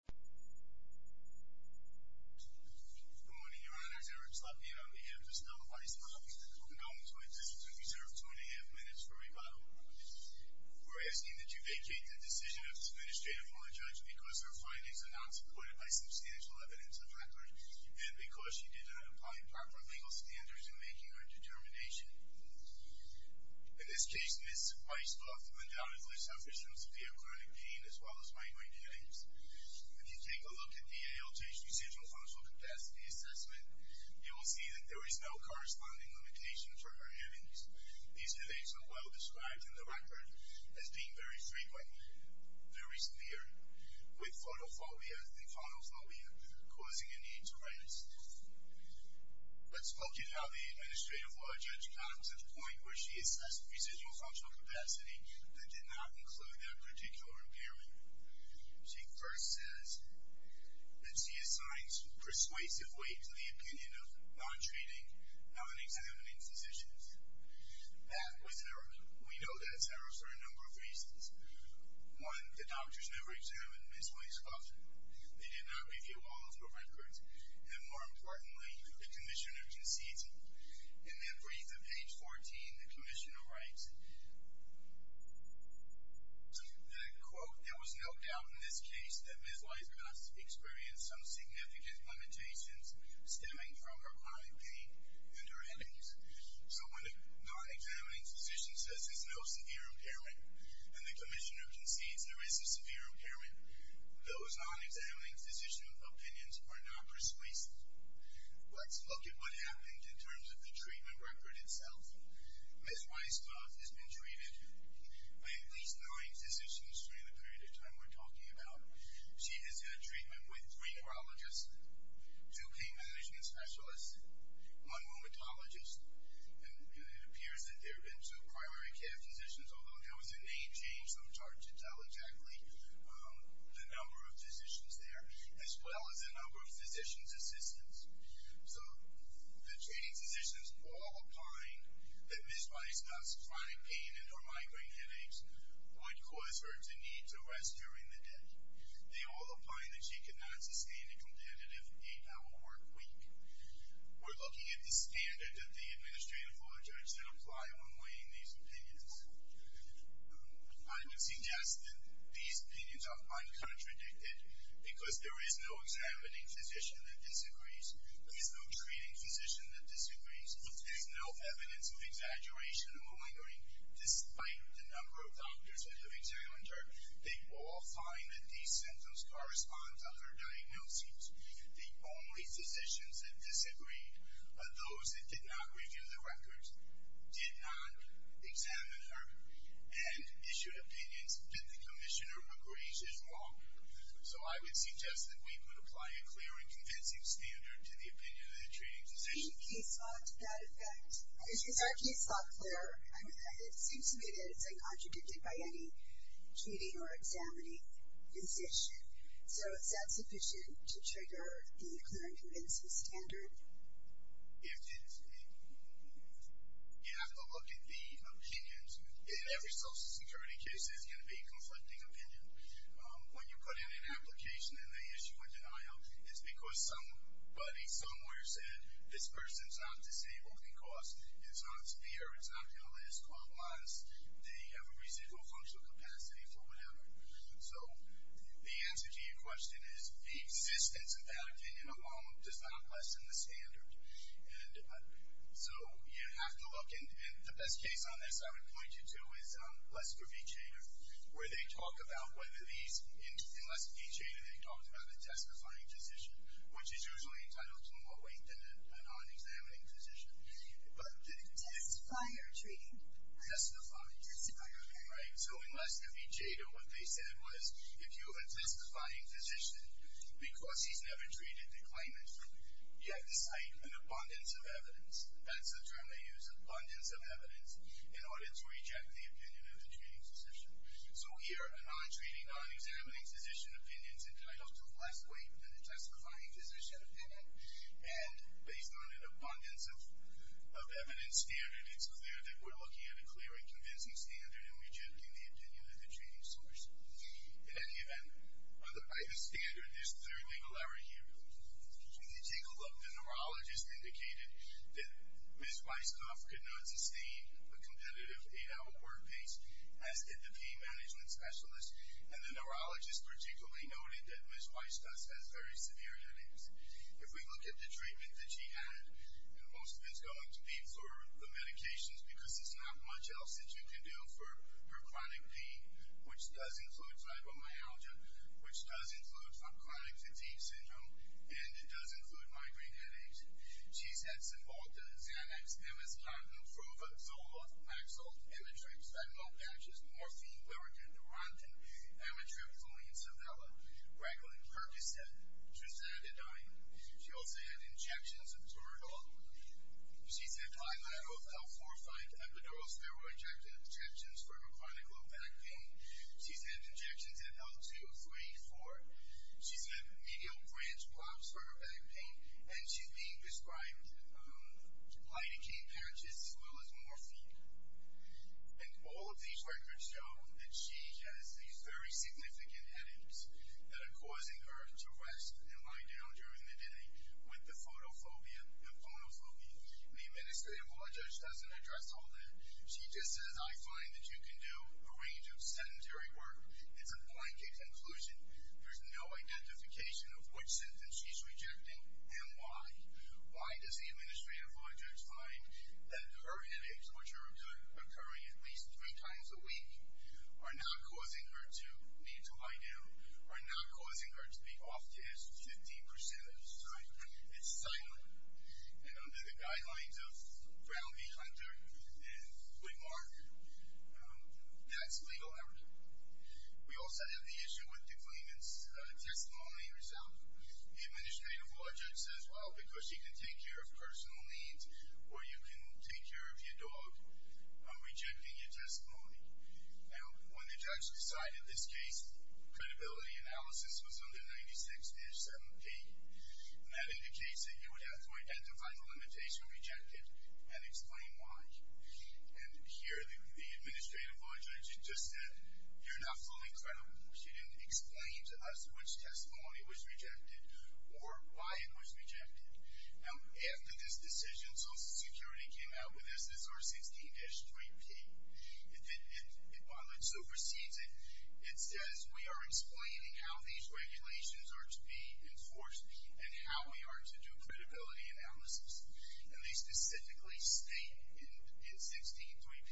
We are asking that you vacate the decision of the Administrative Court of Judges because her findings are not supported by substantial evidence of record and because she did not apply proper legal standards in making her determination. In this case, Ms. Weiskopf undoubtedly suffered some severe chronic pain as well as migraine headaches. When you take a look at the ALJ's residual functional capacity assessment, you will see that there is no corresponding limitation for her headaches. These headaches are well described in the record as being very frequent, very severe, with photophobia causing a need to rest. Let's look at how the Administrative Court of Judges comes to the point where she assessed residual functional capacity that did not include that particular impairment. She first says that she assigns persuasive weight to the opinion of non-treating, non-examining physicians. That was error. We know that errors are a number of reasons. One, the doctors never examined Ms. Weiskopf. They did not review all of her records. And more importantly, the Commissioner conceded. In the brief at page 14, the Commissioner writes, quote, there was no doubt in this case that Ms. Weiskopf experienced some significant limitations stemming from her chronic pain and her headaches. So when a non-examining physician says there's no severe impairment and the Commissioner concedes there is a severe impairment, those non-examining physician opinions are not persuasive. Let's look at what happened in terms of the treatment record itself. Ms. Weiskopf has been treated by at least nine physicians during the period of time we're talking about. She has had treatment with three neurologists, two pain management specialists, one rheumatologist, and it appears that there have been some primary care physicians, although there was a name change. I'm trying to tell exactly the number of physicians there, as well as the number of So the treating physicians all opine that Ms. Weiskopf's chronic pain and her migraine headaches would cause her to need to rest during the day. They all opine that she could not sustain a competitive eight-hour work week. We're looking at the standard that the Administrative Law Judges that apply when weighing these opinions. I would suggest that these opinions are uncontradicted because there is no examining physician that disagrees. There is no treating physician that disagrees. There is no evidence of exaggeration or malingering, despite the number of doctors that have examined her. They all find that these symptoms correspond to her diagnoses. The only physicians that disagreed are those that did not review the records, did not examine her, and issued opinions that the Commissioner agrees is wrong. So I would suggest that we would apply a clear and convincing standard to the opinion of the treating physician. Is the case law to that effect? Is our case law clear? I mean, it seems to me that it's uncontradicted by any treating or examining physician. So is that sufficient to trigger the clear and convincing standard? If it is, we have to look at the opinions. In every Social Security case, there's going to be a conflicting opinion. When you put in an application and they issue a denial, it's because somebody somewhere said, this person's not disabled because it's not severe, it's not ill, it's called modest, they have a residual functional capacity for whatever. So the answer to your question is the existence of that opinion alone does not lessen the standard. And so you have to look, and the best case on this I would point you to is Lester B. Jader, where they talk about whether these, in Lester B. Jader, they talked about the testifying physician, which is usually entitled to more weight than a non-examining physician. But the testifying or treating? Testifying. Testifying, okay. Right, so in Lester B. Jader, what they said was, if you have a testifying physician, because he's never treated, they claim it, you have to cite an abundance of evidence. That's the term they use, abundance of evidence, in order to reject the opinion of the treating physician. So here, a non-treating, non-examining physician's opinion is entitled to less weight than a testifying physician's opinion. And based on an abundance of evidence standard, it's clear that we're looking at a clear and convincing standard in rejecting the opinion of the treating source. In any event, by the standard, there's no legal error here. If you take a look, the neurologist indicated that Ms. Weisskopf could not sustain a competitive eight-hour work piece, as did the pain management specialist. And the neurologist particularly noted that Ms. Weisskopf has very severe headaches. If we look at the treatment that she had, and most of it's going to be for the medications because there's not much else that you can do for her chronic pain, which does include fibromyalgia, which does include chronic fatigue syndrome, and it does include migraine headaches. She's had Cymbalta, Xanax, MS-contin, Fruva, Zoloft, Paxil, Emitrix, Fentanyl patches, Morphine, Lurigan, Neurontin, Amitrip, Fluenzavella, Raglan, Percocet, Trisandidine. She also had injections of Turidol. She's had 5-lateral L4-5 epidural steroid injections for her chronic lumbar pain. She's had injections of L2-3-4. She's had medial branch blobs for her back pain, and she's being prescribed Lidocaine patches as well as Morphine. And all of these records show that she has these very significant headaches that are causing her to rest and lie down during the day with the photophobia, the phonophobia. The administrative law judge doesn't address all that. She just says, I find that you can do a range of sedentary work. It's a blanket conclusion. There's no identification of which symptoms she's rejecting and why. Why does the administrative law judge find that her headaches, which are occurring at least three times a week, are not causing her to need to lie down, are not causing her to be off-disk 15% of the time? It's silent. The guidelines of Brown v. Hunter and Woodmark, that's legal evidence. We also have the issue with the claimant's testimony result. The administrative law judge says, well, because she can take care of personal needs or you can take care of your dog, I'm rejecting your testimony. And when the judge decided this case, credibility analysis was under 96-78. And that indicates that you would have to identify the limitation of rejecting and explain why. And here the administrative law judge just said, you're not fully credible. She didn't explain to us which testimony was rejected or why it was rejected. Now, after this decision, Social Security came out with SR-16-3P. While it supersedes it, it says we are explaining how these regulations are to be enforced and how we are to do credibility analysis. And they specifically state in 16-3P,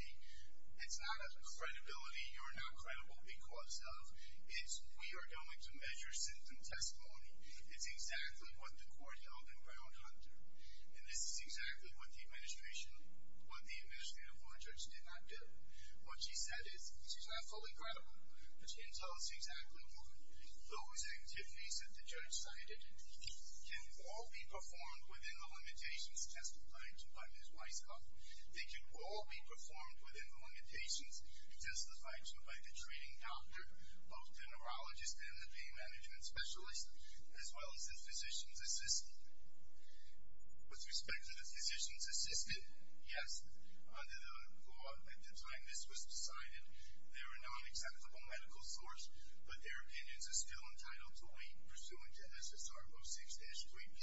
it's not a credibility you're not credible because of. It's we are going to measure symptom testimony. It's exactly what the court held in Brown v. Hunter. And this is exactly what the administrative law judge did not do. What she said is, she's not fully credible, but she didn't tell us exactly why. Those activities that the judge cited can all be performed within the limitations testified to by Ms. Weisshoff. They can all be performed within the limitations testified to by the training doctor, both the neurologist and the pain management specialist, as well as the physician's assistant. With respect to the physician's assistant, yes, at the time this was decided, they were not an acceptable medical source, but their opinions are still entitled to wait, pursuant to SSR-06-3P.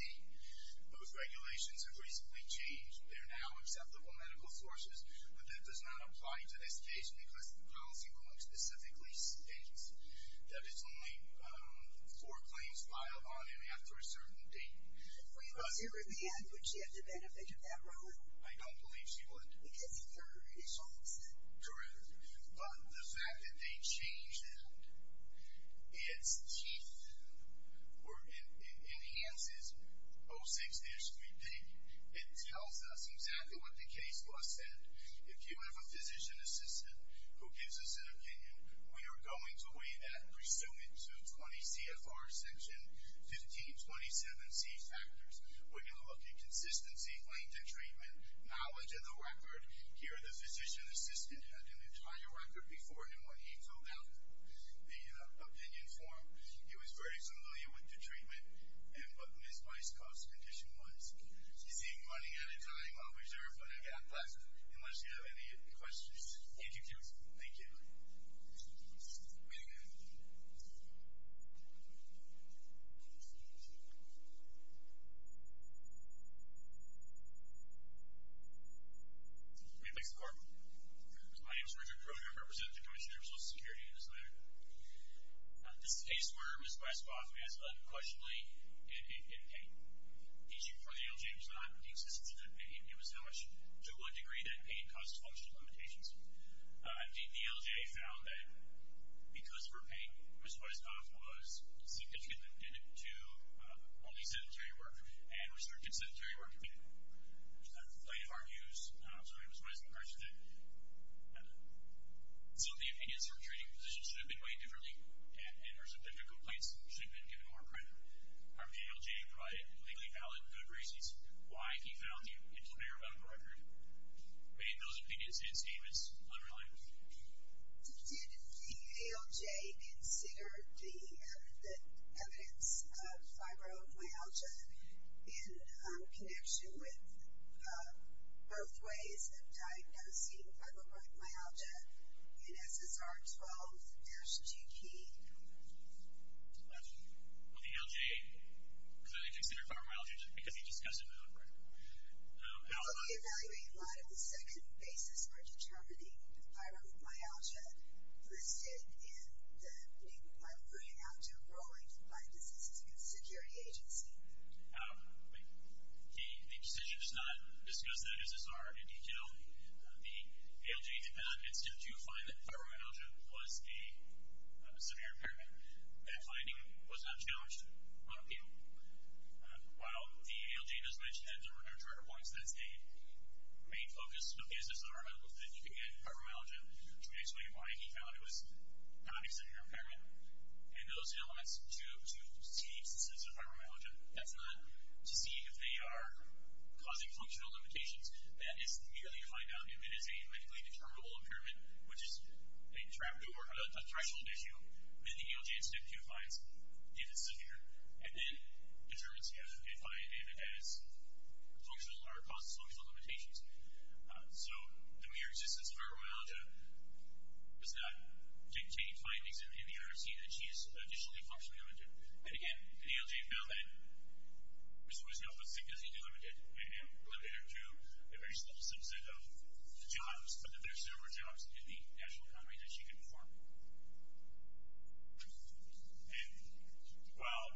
Those regulations have recently changed. They're now acceptable medical sources, but that does not apply to this case because the policy rule specifically states that it's only four claims filed on him after a certain date. If we put her at the end, would she have the benefit of that ruling? I don't believe she would. I think there is hope for her. But the fact that they changed that, it enhances 06-3P. It tells us exactly what the case was said. If you have a physician's assistant who gives us an opinion, we are going to weigh that, pursuant to 20 CFR section 1527C factors. We're going to look at consistency, length of treatment, knowledge of the record. Here, the physician's assistant had an entire record before him when he filled out the opinion form. He was very familiar with the treatment and what Ms. Weiskopf's condition was. You see, I'm running out of time. I'll reserve it and get out of class unless you have any questions. Thank you. Thank you. May it please the Court. My name is Richard Brody. I'm representing the Commission on Social Security in this matter. This is a case where Ms. Weiskopf is unquestionably in pain. The issue for the LG was not the existence of good pain. It was to what degree that pain caused functional limitations. Indeed, the LGA found that because of her pain, Ms. Weiskopf was significantly limited to only sedentary work, and restricted sedentary work in light of our views. I'm sorry, Ms. Weiskopf, I should have said that. So the opinions for treating the physician should have been weighed differently, and her symptomatic complaints should have been given more credit. Did the ALJ consider the evidence of fibromyalgia in connection with both ways of diagnosing fibromyalgia in SSR12-GP? Well, the ALJ clearly considered fibromyalgia because he discussed it in an op-ed. Well, the evaluating line of the second basis for determining fibromyalgia listed in the op-ed I'm bringing out to a ruling by the Diseases and Security Agency. The decision does not discuss that SSR in detail. The ALJ did not consider to find that fibromyalgia was a severe impairment. That finding was not challenged by the people. While the ALJ does mention that there were no charter points, that's the main focus of the SSR and fibromyalgia, which may explain why he found it was not a severe impairment. And those elements to see the existence of fibromyalgia, that's not to see if they are causing functional limitations. That is merely a find-out. If it is a medically determinable impairment, which is a threshold issue, then the ALJ instead defines if it's severe, and then determines if it causes functional limitations. So the mere existence of fibromyalgia does not dictate findings in the IRC that she is additionally functionally limited. And again, the ALJ found that Ms. Weisbaum was sick because he delimited her to a very small subset of the jobs, but that there are several jobs in the actual company that she could form. And while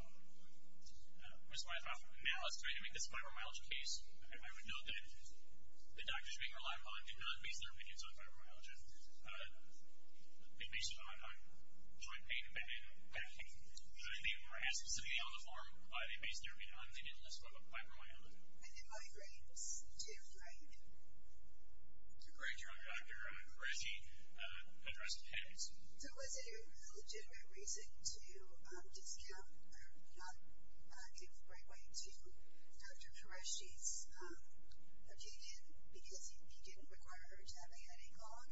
Ms. Weisbaum now is trying to make this a fibromyalgia case, I would note that the doctors being relied upon did not base their opinions on fibromyalgia. They based it on joint pain, and they were asked specifically on the form, but they based their opinion on the illness of fibromyalgia. And then migraines, too, right? It's a great job. Dr. Qureshi addressed it heavily. So was it a legitimate reason to discount, or not do it the right way to Dr. Qureshi's opinion, because he didn't require her to have a headache on?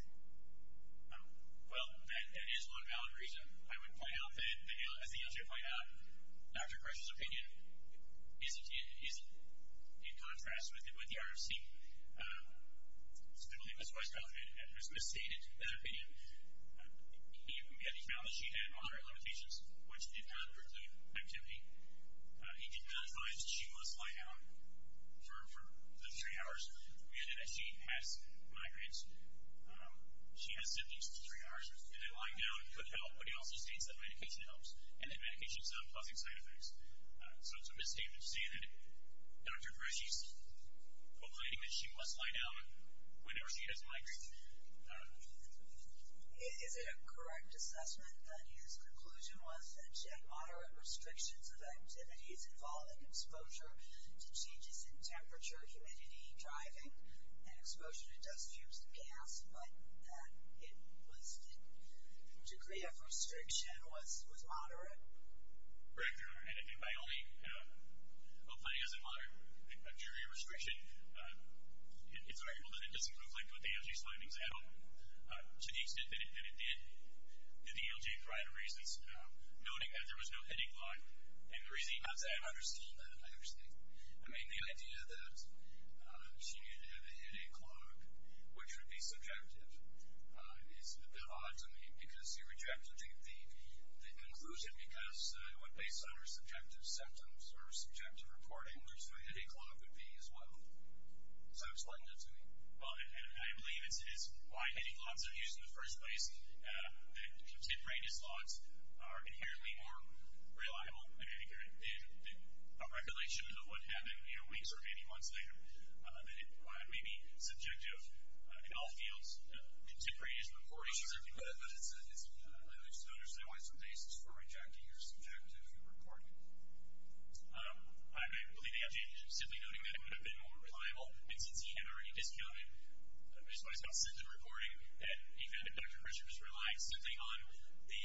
Well, that is one valid reason. I would point out that, as the ALJ pointed out, Dr. Qureshi's opinion isn't in contrast with the IRC. So I believe Ms. Weisbaum has stated that opinion. He found that she had moderate limitations, which did not preclude activity. He did not advise that she must lie down for the three hours, given that she has migraines. She has symptoms for three hours, and that lying down could help, but he also states that medication helps, and that medication is not causing side effects. So it's a misstatement to say that Dr. Qureshi's opinion is that she must lie down whenever she has migraines. Is it a correct assessment that his conclusion was that she had moderate restrictions of activities involving exposure to changes in temperature, humidity, driving, and exposure to dust, fumes, and gas, but that the degree of restriction was moderate? Correct. And by only applying as a jury restriction, it's arguable that it doesn't conflict with the ALJ's findings at all, to the extent that it did. The ALJ provided reasons, noting that there was no hitting clock, and the reasoning not to add on her statement, I understand. I mean, the idea that she needed to have a hitting clock, which would be subjective, is a bit odd to me, because you rejected the conclusion because it went based on her subjective symptoms or subjective reporting. There's no hitting clock would be as well. So explain that to me. Well, I believe it's why hitting clocks are used in the first place, that contemporaneous logs are inherently more reliable, I think, than a regulation of what happened weeks or maybe months later, that it may be subjective in all fields, contemporaneous reporting. But it's important for others to understand what's the basis for rejecting your subjective reporting. I believe the ALJ is simply noting that it would have been more reliable, and since he had already discounted Ms. Weisskopf's symptom reporting, that he found that Dr. Christian was relying simply on the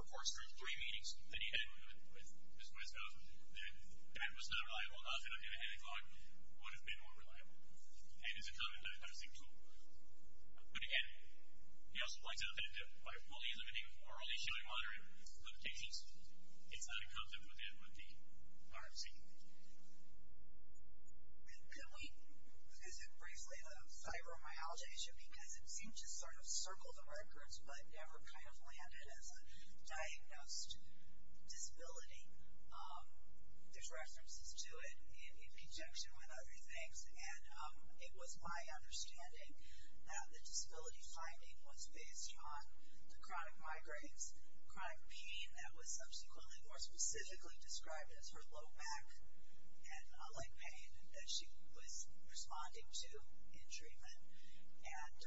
reports from his three meetings that he had with Ms. Weisskopf, that that was not reliable enough, that a hitting clock would have been more reliable. And it's a common dosing tool. But again, he also points out that by fully limiting or only showing moderate limitations, it's not in conflict with the RFC. Can we visit briefly the fibromyalgia issue? Because it seemed to sort of circle the records but never kind of landed as a diagnosed disability. There's references to it in conjunction with other things, and it was my understanding that the disability finding was based on the chronic migraines, chronic pain that was subsequently more specifically described as her low back, and a leg pain that she was responding to in treatment, and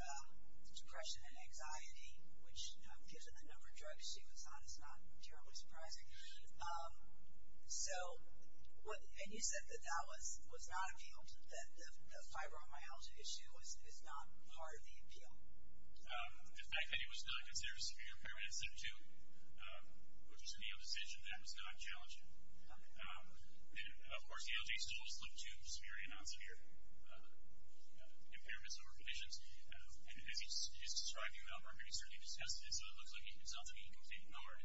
depression and anxiety, which given the number of drugs she was on is not terribly surprising. And you said that that was not appealed, that the fibromyalgia issue is not part of the appeal. The fact that it was not considered a severe impairment in symptom two, which was a real decision, that was not challenging. Of course, the LJ's is also two severe and non-severe impairments or conditions. And as he's describing them, I'm going to certainly discuss this, so it looks like it's something he completely ignored.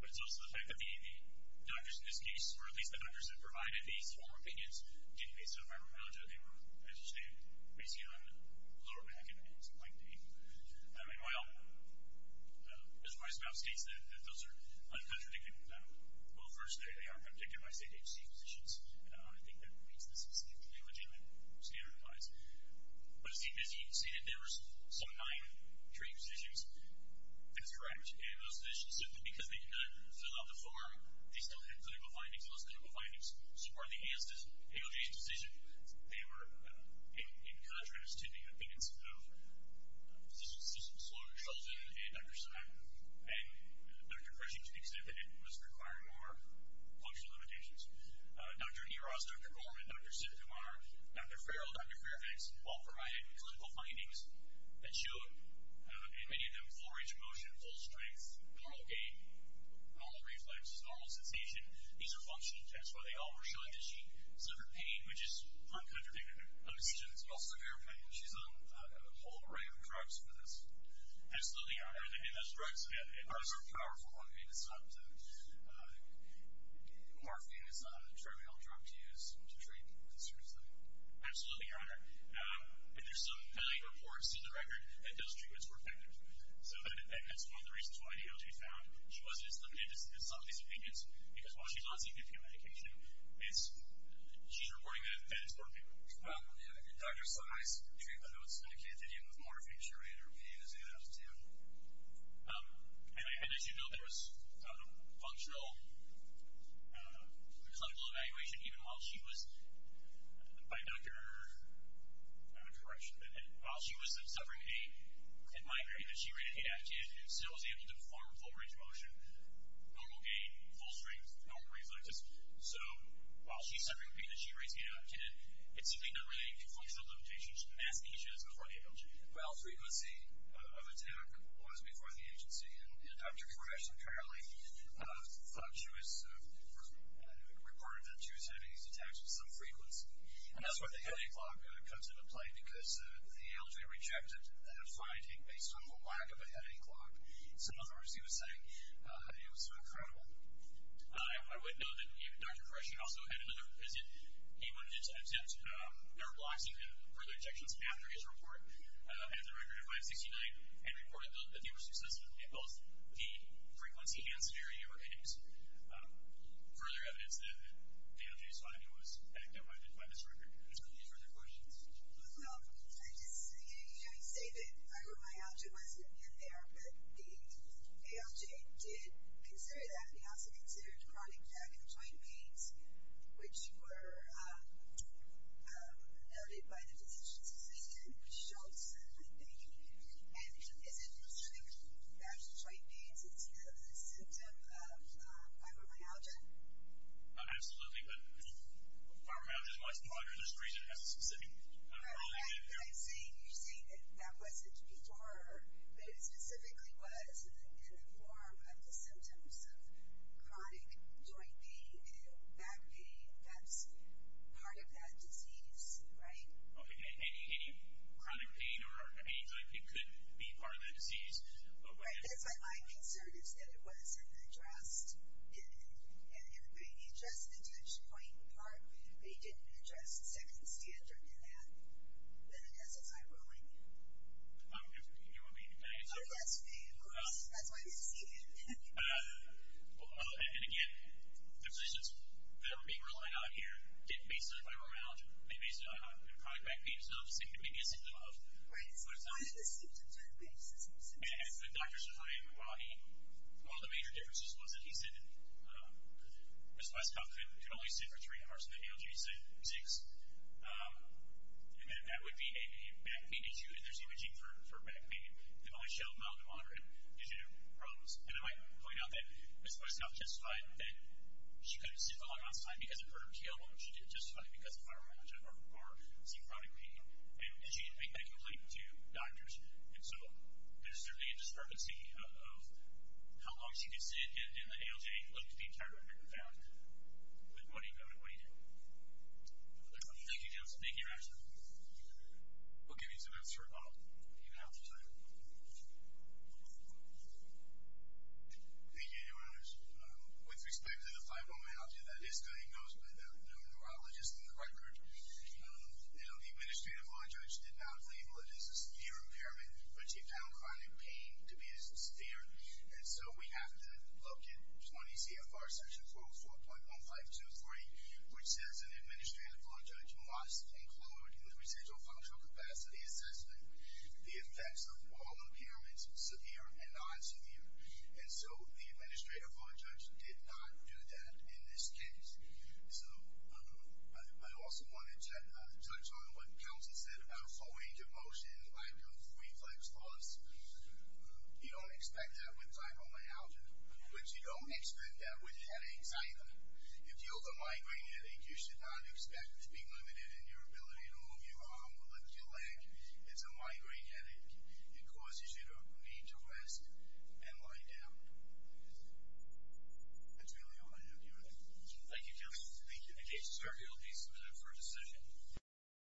But it's also the fact that the doctors in this case, or at least the doctors that provided these four opinions, didn't face fibromyalgia. They were, as you stated, basically on lower back and some leg pain. Meanwhile, as my spouse states, that those are uncontradictory. Well, first, they are not dictated by state agency positions. I think that means that this is completely legitimate standard of lives. But as he did say that there were some nine treatment physicians, that's correct. And those physicians, simply because they did not fill out the form, they still had clinical findings, those clinical findings. So part of the ALJ's decision, they were in contrast to the opinions of physicians such as Dr. Sheldon and Dr. Simon and Dr. Gresham, to the extent that it was requiring more functional limitations. Dr. Eros, Dr. Gorman, Dr. Simkumar, Dr. Farrell, Dr. Fairfax, all provided clinical findings that showed, in many of them, full range of motion, full strength, normal gait, normal reflexes, normal sensation. And these are functional tests where they all were showing that she suffered pain, which is uncontradictory. And she didn't suffer any pain. She's on a whole array of drugs for this. Absolutely, Your Honor. And those drugs are a powerful one. I mean, it's not morphine. It's not a terminal drug to use to treat this seriously. Absolutely, Your Honor. But there's some failing reports in the record that those treatments were effective. So that's one of the reasons why the ALJ found she wasn't as limited as some of these opinions, because while she's on CBP medication, she's reporting that it's working. Well, Dr. Si's treatment notes indicated that it was morphine, surely, and her opinion is in that as well. And I had mentioned, though, there was functional clinical evaluation, even while she was, by Dr. Correction, while she was suffering pain, it might be that she really adapted and still was able to perform full range of motion, normal gain, full strength, normal reflexes. So while she's suffering pain and she rates 8 out of 10, it's simply not really a functional limitation. She didn't ask any questions before the ALJ. Well, frequency of attack was before the agency. And Dr. Correction apparently thought she was reported that she was having these attacks at some frequency. And that's where the heavy clock comes into play, because the ALJ rejected that finding based on the lack of a heavy clock. So, in other words, he was saying it was so incredible. I would note that Dr. Correction also had another visit. He wanted to attempt nerve blocking and further injections after his report. He had the record of 569 and reported that they were successive in both the frequency and scenario you were indicating. Further evidence that the ALJ's finding was active by this record. Are there any further questions? Well, I just say that fibromyalgia wasn't in there, but the ALJ did consider that. They also considered chronic vaginal joint pains, which were noted by the physician's physician, Schultz, I think. And is it true that vaginal joint pains is a symptom of fibromyalgia? Absolutely. But fibromyalgia is much more under this region as a specific condition. I see. You're saying that that wasn't before, but it specifically was in the form of the symptoms of chronic joint pain and back pain that's part of that disease, right? Okay. And any chronic pain or any joint pain could be part of that disease. My concern is that it wasn't addressed in any way. He addressed the tension point part, but he didn't address the second standard in that. Then, yes, it's fibromyalgia. You want me to answer? Yes, please. That's why you're seated. And, again, the physicians that are being relied on here didn't base their fibromyalgia. They based it on chronic back pain. So, obviously, it could be a symptom of. Right, so it's not a symptom to base a symptom. And as the doctor said, one of the major differences was that he said Ms. Westcoff could only sit for three hours and the ALG said six. And that would be a back pain issue, and there's imaging for back pain that only showed mild to moderate didgeridoo problems. And I might point out that Ms. Westcoff testified that she couldn't sit for a long amount of time because of her ALG. She did testify because of fibromyalgia or chronic pain. And she didn't make a complaint to doctors. And so there's certainly a discrepancy of how long she could sit and the ALG looked the entire record down with what he noted, what he did. Thank you, Johnson. Thank you, Rashford. We'll give you some answers for a moment. You have the time. Thank you, Your Honors. With respect to the fibromyalgia that is going on, and there are no neurologists in the record, the Administrative Law Judge did not label it as a severe impairment, but she found chronic pain to be as severe. And so we have to look at 20 CFR section 4.1523, which says an Administrative Law Judge must include in the residual functional capacity assessment the effects of all impairments, severe and non-severe. And so the Administrative Law Judge did not do that in this case. So I also want to touch on what Counselor said about falling into motion by doing reflex thoughts. You don't expect that with fibromyalgia, but you don't expect that with headaches either. If you have a migraine headache, you should not expect it to be limited in your ability to move your arm or lift your leg. It's a migraine headache. It causes you to need to rest and lie down. That's really all I have to say. Thank you, Counselor. Thank you. In case you'll be submitted for a decision.